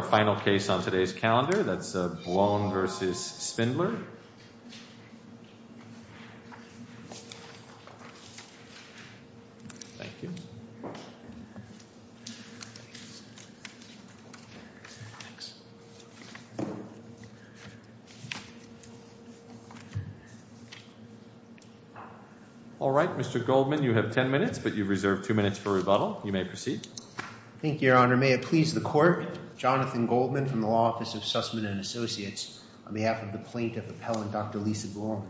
Our final case on today's calendar is Bwon v. Spindler. All right, Mr. Goldman, you have ten minutes, but you've reserved two minutes for rebuttal. You may proceed. Thank you, Your Honor. Your Honor, may it please the Court, Jonathan Goldman from the Law Office of Sussman & Associates on behalf of the Plaintiff Appellant, Dr. Lisa Bwon.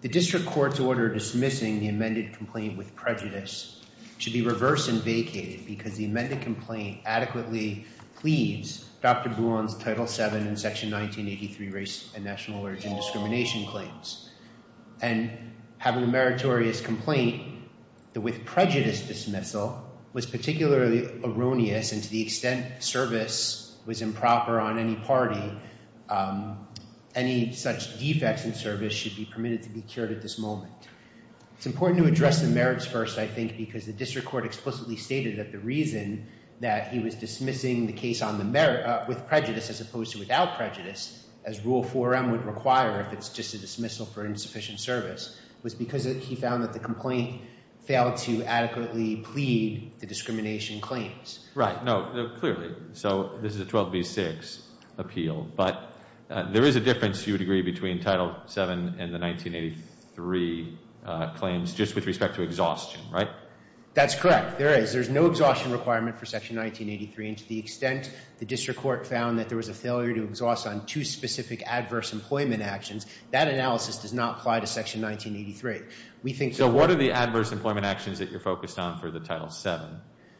The District Court's order dismissing the amended complaint with prejudice should be reversed and vacated because the amended complaint adequately pleads Dr. Bwon's Title VII and Section 1983 race and national origin discrimination claims, and having a meritorious complaint that with prejudice dismissal was particularly erroneous and to the extent service was improper on any party, any such defects in service should be permitted to be cured at this moment. It's important to address the merits first, I think, because the District Court explicitly stated that the reason that he was dismissing the case with prejudice as opposed to without prejudice, as Rule 4M would require if it's just a dismissal for insufficient service, was because he found that the complaint failed to adequately plead the discrimination claims. Right. No, clearly. So this is a 12B6 appeal, but there is a difference, you would agree, between Title VII and the 1983 claims just with respect to exhaustion, right? That's correct. There is. There's no exhaustion requirement for Section 1983, and to the extent the District Court found that there was a failure to exhaust on two specific adverse employment actions, that analysis does not apply to Section 1983. We think... So what are the adverse employment actions that you're focused on for the Title VII,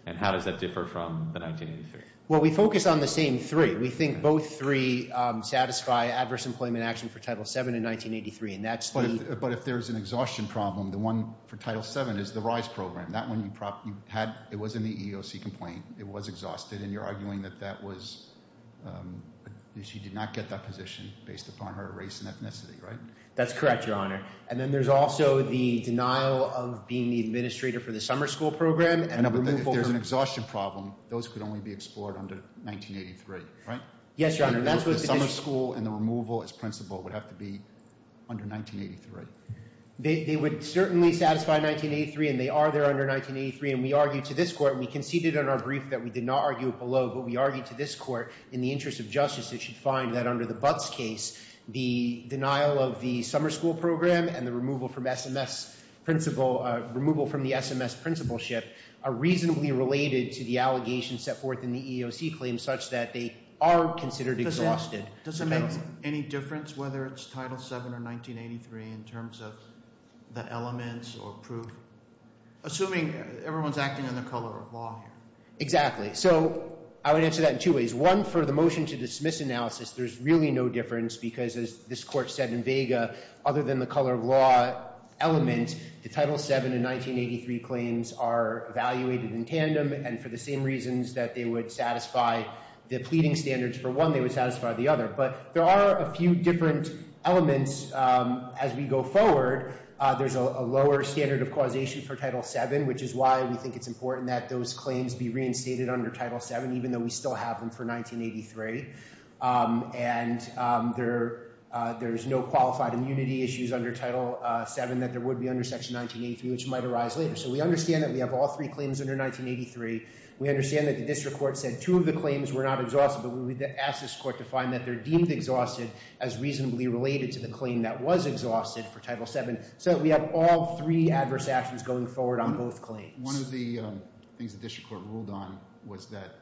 and how does that differ from the 1983? Well, we focus on the same three. We think both three satisfy adverse employment action for Title VII in 1983, and that's the... But if there's an exhaustion problem, the one for Title VII is the RISE program. That one you had, it was in the EEOC complaint, it was exhausted, and you're arguing that that was... That she did not get that position based upon her race and ethnicity, right? That's correct, Your Honor. And then there's also the denial of being the administrator for the summer school program and the removal... And if there's an exhaustion problem, those could only be explored under 1983, right? Yes, Your Honor. That's what the... The summer school and the removal as principal would have to be under 1983. They would certainly satisfy 1983, and they are there under 1983, and we argued to this court, in the interest of justice, it should find that under the Butts case, the denial of the summer school program and the removal from the SMS principalship are reasonably related to the allegations set forth in the EEOC claims such that they are considered exhausted. Does it make any difference whether it's Title VII or 1983 in terms of the elements or proof? Assuming everyone's acting in the color of law here. Exactly. So I would answer that in two ways. One, for the motion to dismiss analysis, there's really no difference because, as this court said in Vega, other than the color of law element, the Title VII and 1983 claims are evaluated in tandem, and for the same reasons that they would satisfy the pleading standards for one, they would satisfy the other. But there are a few different elements as we go forward. There's a lower standard of causation for Title VII, which is why we think it's important that those claims be reinstated under Title VII, even though we still have them for 1983. And there's no qualified immunity issues under Title VII that there would be under Section 1983, which might arise later. So we understand that we have all three claims under 1983. We understand that the district court said two of the claims were not exhausted, but we would ask this court to find that they're deemed exhausted as reasonably related to the claim that was exhausted for Title VII, so that we have all three adverse actions going forward on both claims. One of the things the district court ruled on was that,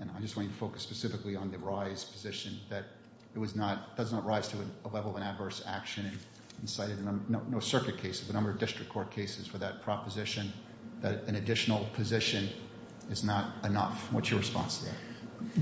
and I just want you to focus specifically on the rise position, that it does not rise to a level of adverse action and cited in no circuit cases, the number of district court cases for that proposition, that an additional position is not enough. What's your response to that?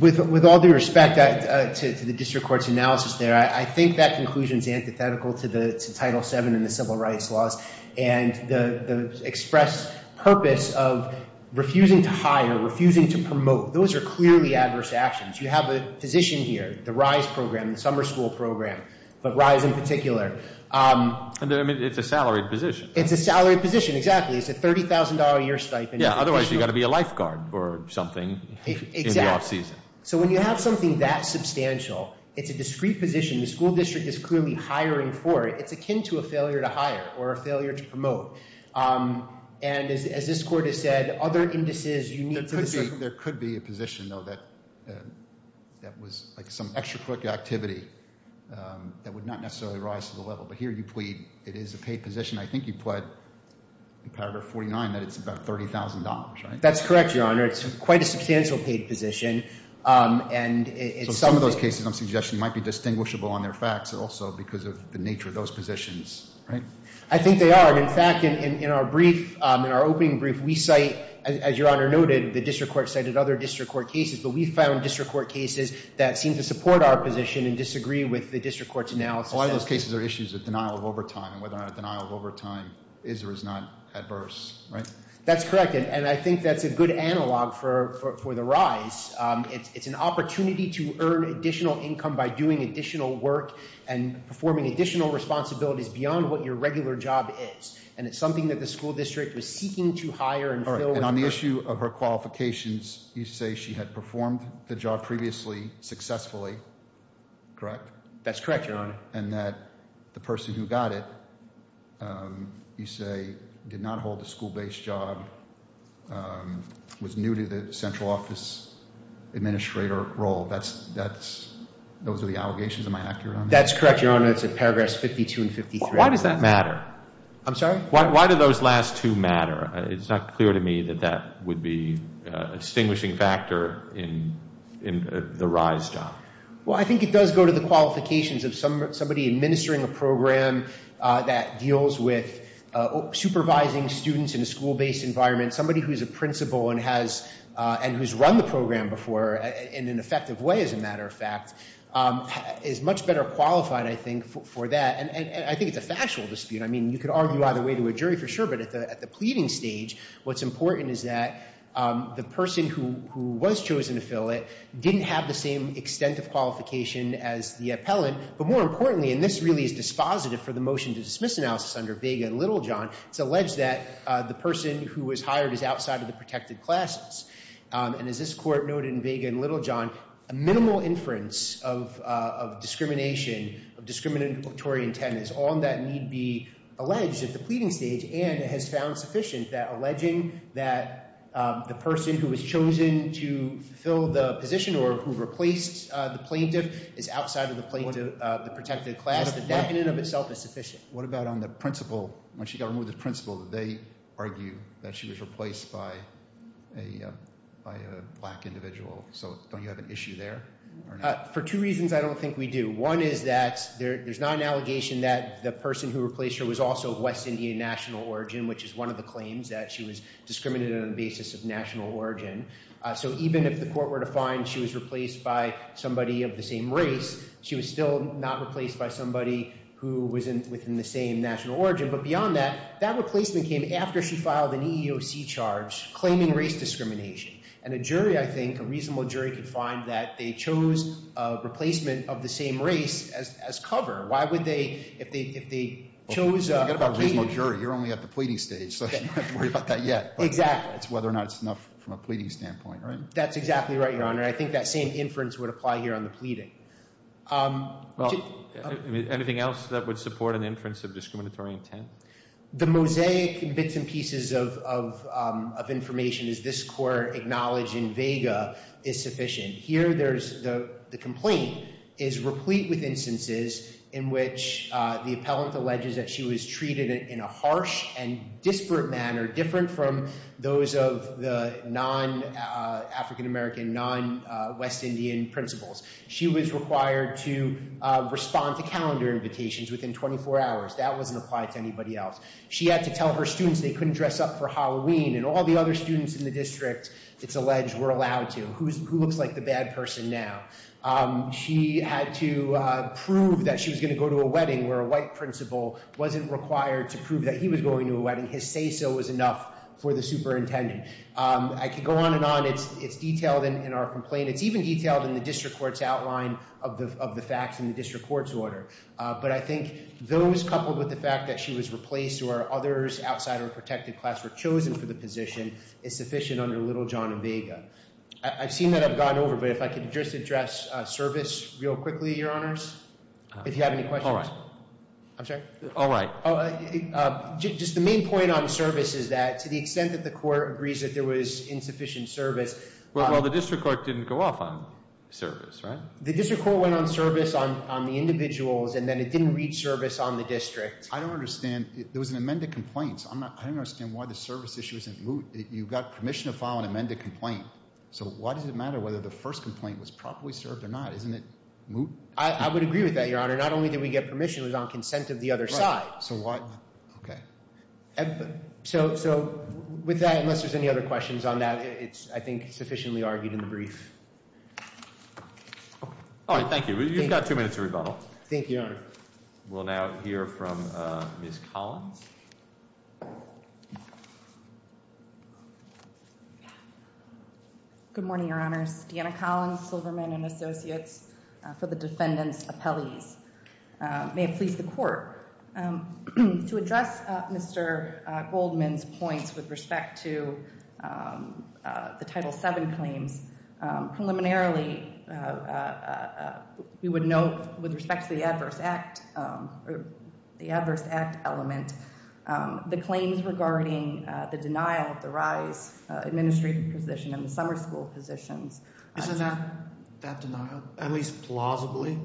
With all due respect to the district court's analysis there, I think that conclusion is antithetical to Title VII and the civil rights laws. And the expressed purpose of refusing to hire, refusing to promote, those are clearly adverse actions. You have a position here, the RISE program, the summer school program, but RISE in particular. It's a salaried position. It's a salaried position, exactly. It's a $30,000-a-year stipend. Yeah, otherwise you've got to be a lifeguard or something in the off-season. So when you have something that substantial, it's a discreet position. The school district is clearly hiring for it. It's akin to a failure to hire or a failure to promote. And as this court has said, other indices, you need to... There could be a position, though, that was like some extracurricular activity that would not necessarily rise to the level, but here you plead it is a paid position. I think you pled in paragraph 49 that it's about $30,000, right? That's correct, Your Honor. It's quite a substantial paid position. And it's something... So some of those cases I'm suggesting might be distinguishable on their facts also because of the nature of those positions, right? I think they are. And in fact, in our brief, in our opening brief, we cite, as Your Honor noted, the district court cited other district court cases, but we found district court cases that seem to support our position and disagree with the district court's analysis. So a lot of those cases are issues of denial of overtime and whether or not a denial of overtime is or is not adverse, right? That's correct. And I think that's a good analog for the rise. It's an opportunity to earn additional income by doing additional work and performing additional responsibilities beyond what your regular job is. And it's something that the school district was seeking to hire and fill with... All right. And on the issue of her qualifications, you say she had performed the job previously successfully, correct? That's correct, Your Honor. And that the person who got it, you say, did not hold a school-based job, was new to the central office administrator role. Those are the allegations, am I accurate on that? That's correct, Your Honor. It's in paragraphs 52 and 53. Why does that matter? I'm sorry? Why do those last two matter? It's not clear to me that that would be a distinguishing factor in the rise job. Well, I think it does go to the qualifications of somebody administering a program that deals with supervising students in a school-based environment. Somebody who's a principal and who's run the program before in an effective way, as a matter of fact, is much better qualified, I think, for that. And I think it's a factual dispute. I mean, you could argue either way to a jury for sure, but at the pleading stage, what's as the appellant. But more importantly, and this really is dispositive for the motion to dismiss analysis under Vega and Littlejohn, it's alleged that the person who was hired is outside of the protected classes. And as this court noted in Vega and Littlejohn, a minimal inference of discrimination, of discriminatory intent is on that need be alleged at the pleading stage, and it has found sufficient that alleging that the person who was chosen to fill the position or who replaced the plaintiff is outside of the protected class, the decadent of itself is sufficient. What about on the principal? When she got removed as principal, did they argue that she was replaced by a black individual? So don't you have an issue there? For two reasons I don't think we do. One is that there's not an allegation that the person who replaced her was also West Virginians, that she was discriminated on the basis of national origin. So even if the court were to find she was replaced by somebody of the same race, she was still not replaced by somebody who was within the same national origin. But beyond that, that replacement came after she filed an EEOC charge claiming race discrimination. And a jury, I think, a reasonable jury, could find that they chose a replacement of the same race as cover. Why would they, if they chose a pleading- Forget about reasonable jury. You're only at the pleading stage, so you don't have to worry about that yet. Exactly. It's whether or not it's enough from a pleading standpoint, right? That's exactly right, Your Honor. I think that same inference would apply here on the pleading. Anything else that would support an inference of discriminatory intent? The mosaic bits and pieces of information, as this court acknowledged in Vega, is sufficient. Here there's the complaint is replete with instances in which the appellant alleges that she was treated in a harsh and disparate manner, different from those of the non-African-American, non-West Indian principals. She was required to respond to calendar invitations within 24 hours. That wasn't applied to anybody else. She had to tell her students they couldn't dress up for Halloween, and all the other students in the district, it's alleged, were allowed to. Who looks like the bad person now? She had to prove that she was going to go to a wedding, where a white principal wasn't required to prove that he was going to a wedding. His say-so was enough for the superintendent. I could go on and on. It's detailed in our complaint. It's even detailed in the district court's outline of the facts in the district court's order. But I think those, coupled with the fact that she was replaced or others outside her protected class were chosen for the position, is sufficient under Little, John, and Vega. I've seen that. I've gone over. But if I could just address service real quickly, Your Honors, if you have any questions. All right. I'm sorry? All right. Just the main point on service is that, to the extent that the court agrees that there was insufficient service— Well, the district court didn't go off on service, right? The district court went on service on the individuals, and then it didn't read service on the district. I don't understand. There was an amended complaint. I don't understand why the service issue isn't moved. You've got permission to file an amended complaint. So why does it matter whether the first complaint was properly served or not? Isn't it moved? I would agree with that, Your Honor. Not only did we get permission, it was on consent of the other side. So what? Okay. So, with that, unless there's any other questions on that, it's, I think, sufficiently argued in the brief. All right. Thank you. You've got two minutes to rebuttal. Thank you, Your Honor. We'll now hear from Ms. Collins. Good morning, Your Honors. Deanna Collins, Silverman & Associates for the Defendant's Appellees. May it please the Court. To address Mr. Goldman's points with respect to the Title VII claims, preliminarily, we would note, with respect to the Adverse Act element, the claims regarding the denial of the RISE administrative position and the summer school positions. Isn't that denial, at least plausibly,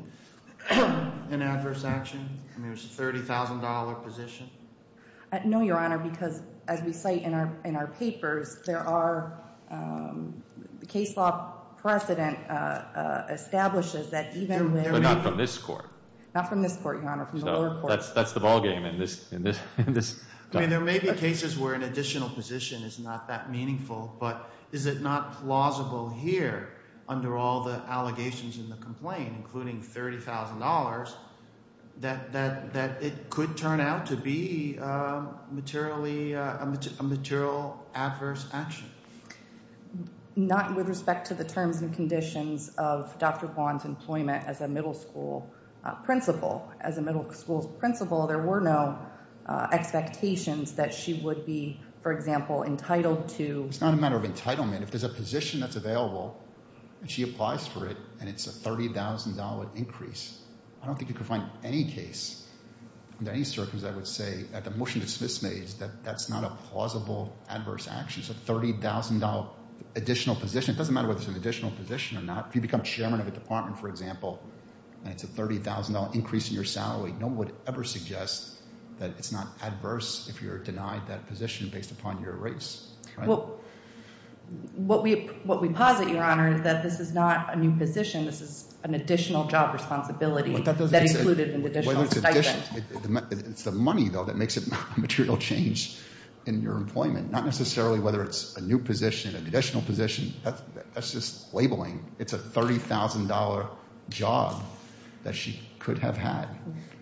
an adverse action? I mean, it was a $30,000 position. No, Your Honor, because as we cite in our papers, there are, the case law precedent establishes that even when... But not from this Court. Not from this Court, Your Honor. From the lower court. So, that's the ballgame in this... I mean, there may be cases where an additional position is not that meaningful, but is it not plausible here, under all the allegations in the complaint, including $30,000, that it could turn out to be a material adverse action? Not with respect to the terms and conditions of Dr. Vaughan's employment as a middle school principal. As a middle school principal, there were no expectations that she would be, for example, entitled to... It's not a matter of entitlement. If there's a position that's available, and she applies for it, and it's a $30,000 increase, I don't think you can find any case, in any circumstance, I would say, at the motion to It doesn't matter whether it's an additional position or not. If you become chairman of a department, for example, and it's a $30,000 increase in your salary, no one would ever suggest that it's not adverse if you're denied that position based upon your race. What we posit, Your Honor, is that this is not a new position. This is an additional job responsibility that included an additional stipend. It's the money, though, that makes it a material change in your employment. Not necessarily whether it's a new position, an additional position, that's just labeling. It's a $30,000 job that she could have had.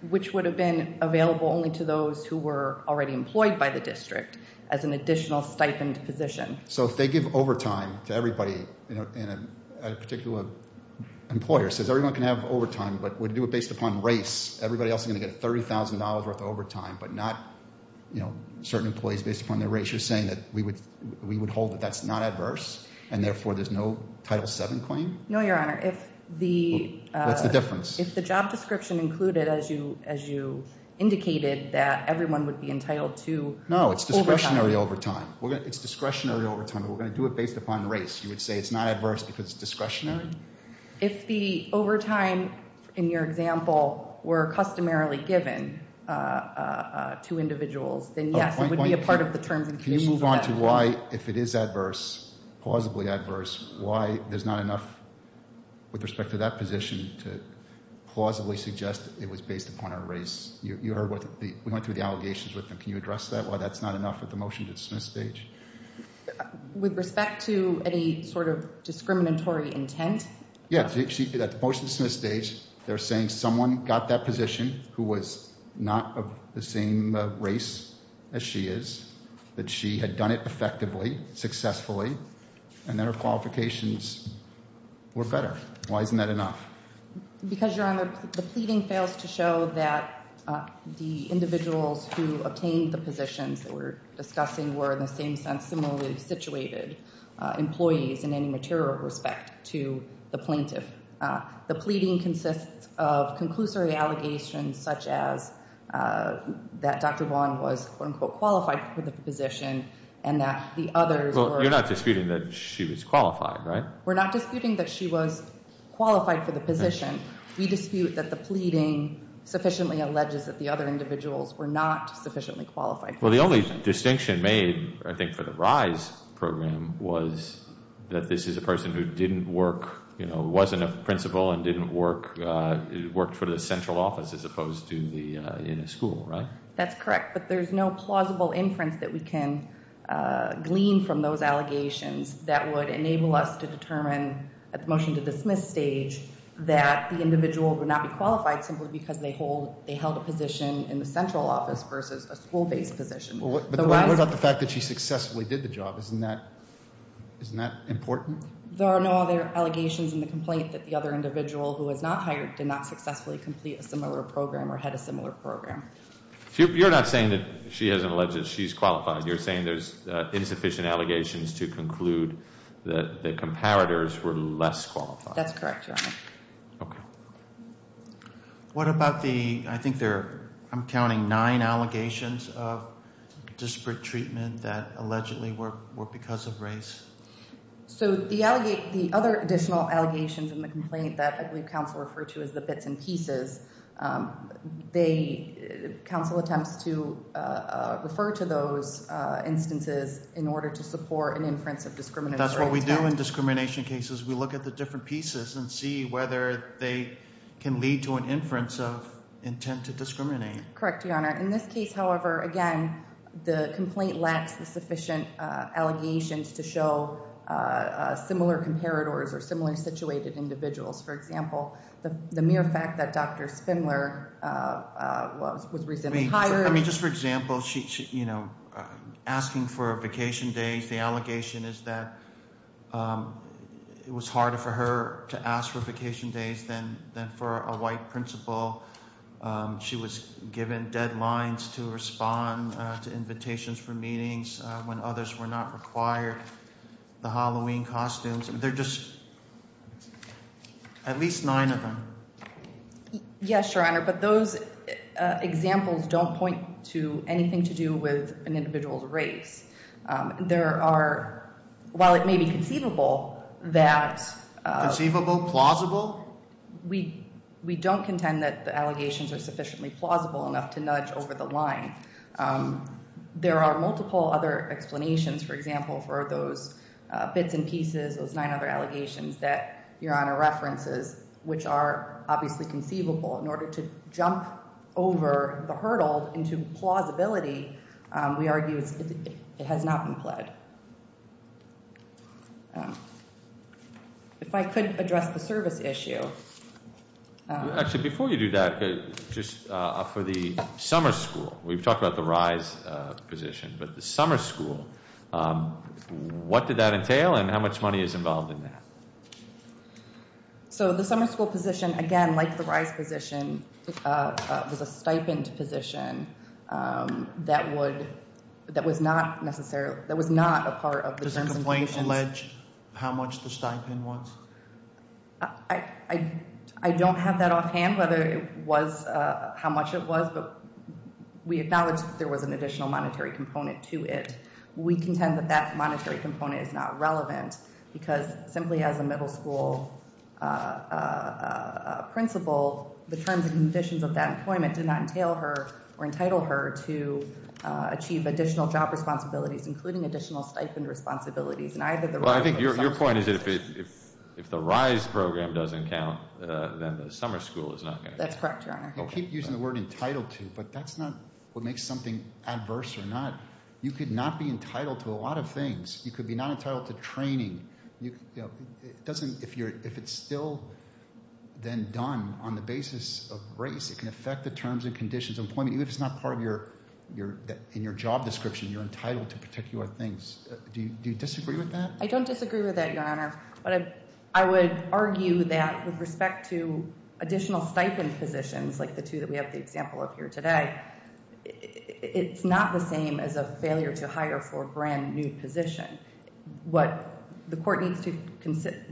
Which would have been available only to those who were already employed by the district as an additional stipend position. So if they give overtime to everybody, and a particular employer says everyone can have $30,000 worth of overtime, but not certain employees based upon their race, you're saying that we would hold that that's not adverse, and therefore there's no Title VII claim? No, Your Honor, if the job description included, as you indicated, that everyone would be entitled to overtime. No, it's discretionary overtime. It's discretionary overtime, but we're going to do it based upon race. You would say it's not adverse because it's discretionary? If the overtime, in your example, were customarily given to individuals, then yes, it would be a part of the terms and conditions of that claim. Can you move on to why, if it is adverse, plausibly adverse, why there's not enough with respect to that position to plausibly suggest it was based upon our race? You heard what the, we went through the allegations with them, can you address that, why that's not enough at the motion to dismiss stage? With respect to any sort of discriminatory intent? Yeah, at the motion to dismiss stage, they're saying someone got that position who was not of the same race as she is, that she had done it effectively, successfully, and that her qualifications were better. Why isn't that enough? Because, Your Honor, the pleading fails to show that the individuals who obtained the position were of the same race and similarly situated employees in any material respect to the plaintiff. The pleading consists of conclusory allegations such as that Dr. Vaughn was, quote-unquote, qualified for the position and that the others were... Well, you're not disputing that she was qualified, right? We're not disputing that she was qualified for the position, we dispute that the pleading Well, the only distinction made, I think, for the RISE program was that this is a person who didn't work, you know, wasn't a principal and didn't work, worked for the central office as opposed to the, in a school, right? That's correct, but there's no plausible inference that we can glean from those allegations that would enable us to determine at the motion to dismiss stage that the individual would not be qualified simply because they hold, they held a position in the central office versus a school-based position. But what about the fact that she successfully did the job? Isn't that, isn't that important? There are no other allegations in the complaint that the other individual who was not hired did not successfully complete a similar program or had a similar program. You're not saying that she hasn't alleged that she's qualified, you're saying there's insufficient allegations to conclude that the comparators were less qualified. That's correct, Your Honor. Okay. What about the, I think there, I'm counting nine allegations of disparate treatment that allegedly were because of RISE? So the other additional allegations in the complaint that I believe counsel referred to as the bits and pieces, they, counsel attempts to refer to those instances in order to support an inference of discrimination. That's what we do in discrimination cases. We look at the different pieces and see whether they can lead to an inference of intent to discriminate. Correct, Your Honor. In this case, however, again, the complaint lacks the sufficient allegations to show similar comparators or similar situated individuals. For example, the mere fact that Dr. Spindler was, was recently hired. I mean, just for example, she, you know, asking for a vacation days, the allegation is that it was harder for her to ask for vacation days than, than for a white principal. She was given deadlines to respond to invitations for meetings when others were not required. The Halloween costumes, and they're just at least nine of them. Yes, Your Honor. But those examples don't point to anything to do with an individual's race. There are, while it may be conceivable that, conceivable, plausible, we, we don't contend that the allegations are sufficiently plausible enough to nudge over the line. There are multiple other explanations, for example, for those bits and pieces, those nine other allegations that Your Honor references, which are obviously conceivable in order to jump over the hurdle into plausibility, we argue, it has not been pledged. If I could address the service issue. Actually, before you do that, just for the summer school, we've talked about the rise position, but the summer school, what did that entail and how much money is involved in that? So, the summer school position, again, like the rise position, was a stipend position that would, that was not necessarily, that was not a part of the terms and conditions. Does the complaint allege how much the stipend was? I don't have that offhand, whether it was how much it was, but we acknowledge that there was an additional monetary component to it. We contend that that monetary component is not relevant, because simply as a middle school principal, the terms and conditions of that employment did not entail her or entitle her to achieve additional job responsibilities, including additional stipend responsibilities. And either the- Well, I think your point is that if the rise program doesn't count, then the summer school is not going to count. That's correct, Your Honor. Well, keep using the word entitled to, but that's not what makes something adverse or not. You could not be entitled to a lot of things. You could be not entitled to training. It doesn't, if it's still then done on the basis of race, it can affect the terms and conditions of employment. Even if it's not part of your, in your job description, you're entitled to particular things. Do you disagree with that? I don't disagree with that, Your Honor. But I would argue that with respect to additional stipend positions, like the two that we have the example of here today, it's not the same as a failure to hire for a brand new position. What the court needs to,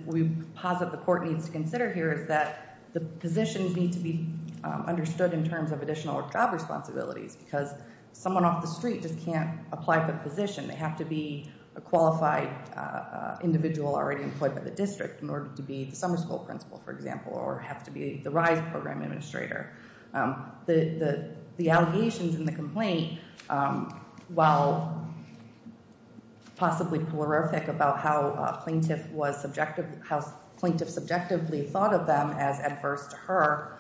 we posit the court needs to consider here is that the positions need to be understood in terms of additional job responsibilities, because someone off the street just can't apply for the position. They have to be a qualified individual already employed by the district in order to be the summer school principal, for example, or have to be the RISE program administrator. The allegations in the complaint, while possibly prolific about how plaintiff was subjective, how plaintiff subjectively thought of them as adverse to her,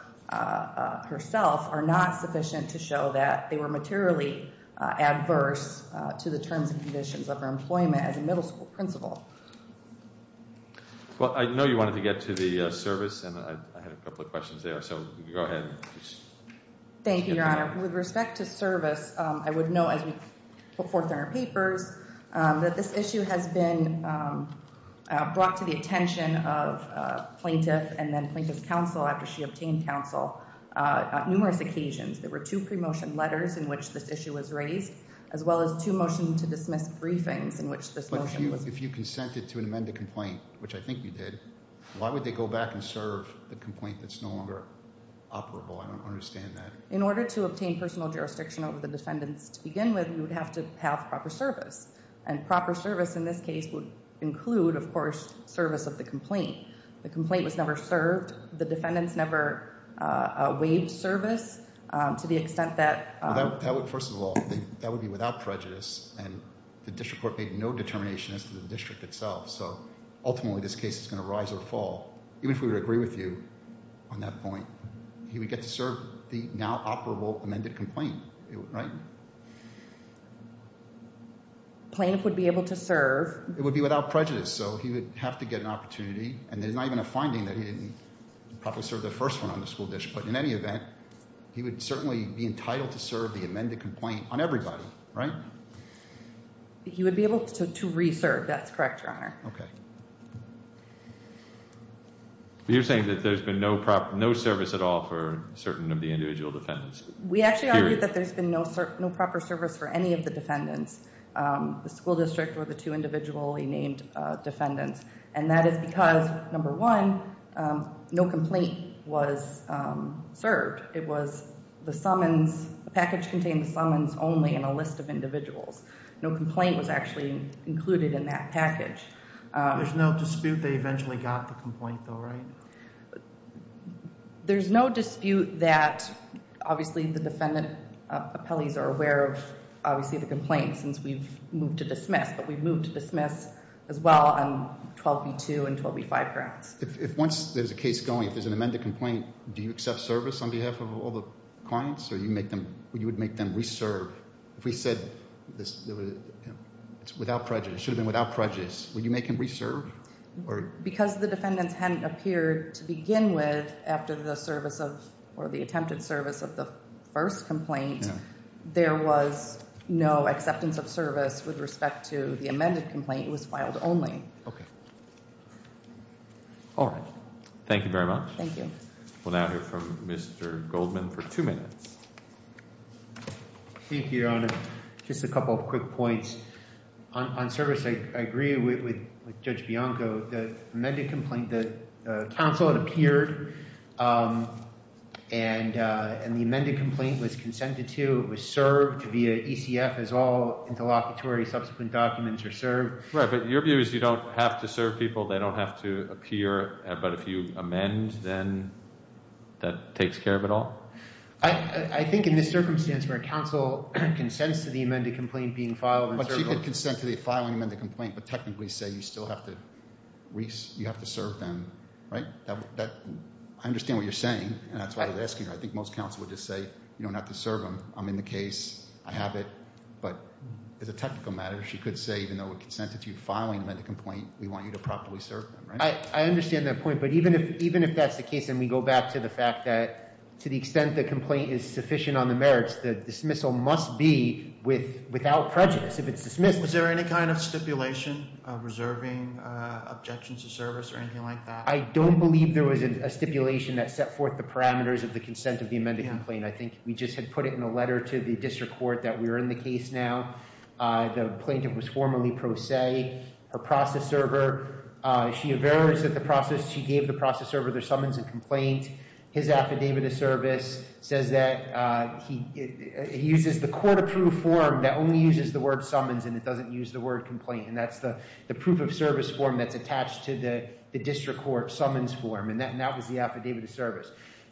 herself, are not sufficient to show that they were materially adverse to the terms and conditions of her employment as a middle school principal. Well, I know you wanted to get to the service, and I had a couple of questions there, so go ahead, please. Thank you, Your Honor. With respect to service, I would note, as we put forth in our papers, that this issue has been brought to the attention of plaintiff and then plaintiff's counsel after she obtained counsel on numerous occasions. There were two pre-motion letters in which this issue was raised, as well as two motions to dismiss briefings in which this motion was- If you consented to an amended complaint, which I think you did, why would they go back and serve the complaint that's no longer operable? I don't understand that. In order to obtain personal jurisdiction over the defendants to begin with, you would have to have proper service. And proper service in this case would include, of course, service of the complaint. The complaint was never served, the defendants never waived service to the extent that- First of all, that would be without prejudice, and the district court made no determination as to the district itself. So, ultimately, this case is going to rise or fall. Even if we would agree with you on that point, he would get to serve the now operable amended complaint, right? Plaintiff would be able to serve- It would be without prejudice, so he would have to get an opportunity. And there's not even a finding that he didn't properly serve the first one on the school dish. But in any event, he would certainly be entitled to serve the amended complaint on everybody, right? He would be able to re-serve, that's correct, your honor. Okay. You're saying that there's been no service at all for certain of the individual defendants. We actually argue that there's been no proper service for any of the defendants. The school district or the two individually named defendants. And that is because, number one, no complaint was served. It was the summons, the package contained the summons only in a list of individuals. No complaint was actually included in that package. There's no dispute they eventually got the complaint though, right? There's no dispute that, obviously, the defendant appellees are aware of, obviously, the complaint since we've moved to dismiss. As well on 12B2 and 12B5 grounds. If once there's a case going, if there's an amended complaint, do you accept service on behalf of all the clients or would you make them re-serve? If we said it's without prejudice, it should have been without prejudice, would you make them re-serve? Because the defendants hadn't appeared to begin with after the service of, or the attempted service of the first complaint, there was no acceptance of service with respect to the amended complaint, it was filed only. Okay. All right. Thank you very much. Thank you. We'll now hear from Mr. Goldman for two minutes. Thank you, Your Honor. Just a couple of quick points. On service, I agree with Judge Bianco. The amended complaint, the counsel had appeared and the amended complaint was consented to, it was served via ECF as all interlocutory subsequent documents are served. Right, but your view is you don't have to serve people, they don't have to appear, but if you amend, then that takes care of it all? I think in this circumstance where counsel consents to the amended complaint being filed- But she could consent to the filing of the complaint, but technically say you still have to serve them, right? I understand what you're saying, and that's why I was asking her. I think most counsel would just say, you don't have to serve them, I'm in the case, I have it. But as a technical matter, she could say even though it consented to filing the complaint, we want you to properly serve them, right? I understand that point, but even if that's the case, and we go back to the fact that to the extent the complaint is sufficient on the merits, the dismissal must be without prejudice if it's dismissed. Was there any kind of stipulation of reserving objections to service or anything like that? I don't believe there was a stipulation that set forth the parameters of the consent of the amended complaint. I think we just had put it in a letter to the district court that we're in the case now. The plaintiff was formally pro se. Her process server, she averts that the process, she gave the process server their summons and complaint. His affidavit of service says that he uses the court approved form that only uses the word summons and it doesn't use the word complaint. And that's the proof of service form that's attached to the district court summons form, and that was the affidavit of service.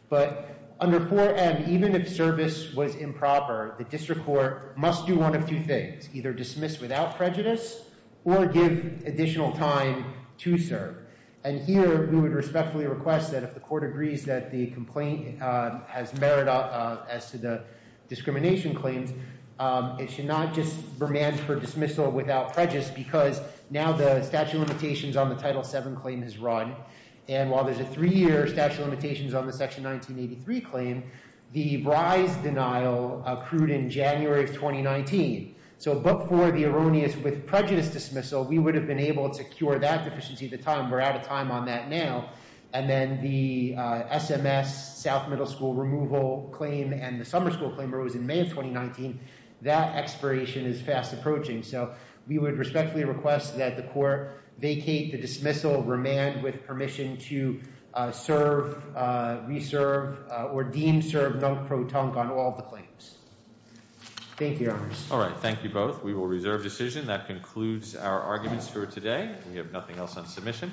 But under 4M, even if service was improper, the district court must do one of two things. Either dismiss without prejudice or give additional time to serve. And here, we would respectfully request that if the court agrees that the complaint has merit as to the discrimination claims, it should not just remand for dismissal without prejudice because now the statute of limitations on the title seven claim has run. And while there's a three year statute of limitations on the section 1983 claim, the bry's denial accrued in January of 2019. So but for the erroneous with prejudice dismissal, we would have been able to cure that deficiency at the time. We're out of time on that now. And then the SMS, South Middle School removal claim and the summer school claim arose in May of 2019. That expiration is fast approaching. So we would respectfully request that the court vacate the dismissal, remand with permission to serve, reserve, or deem serve non-pro-tunk on all the claims. Thank you, Your Honors. All right, thank you both. We will reserve decision. That concludes our arguments for today. We have nothing else on submission.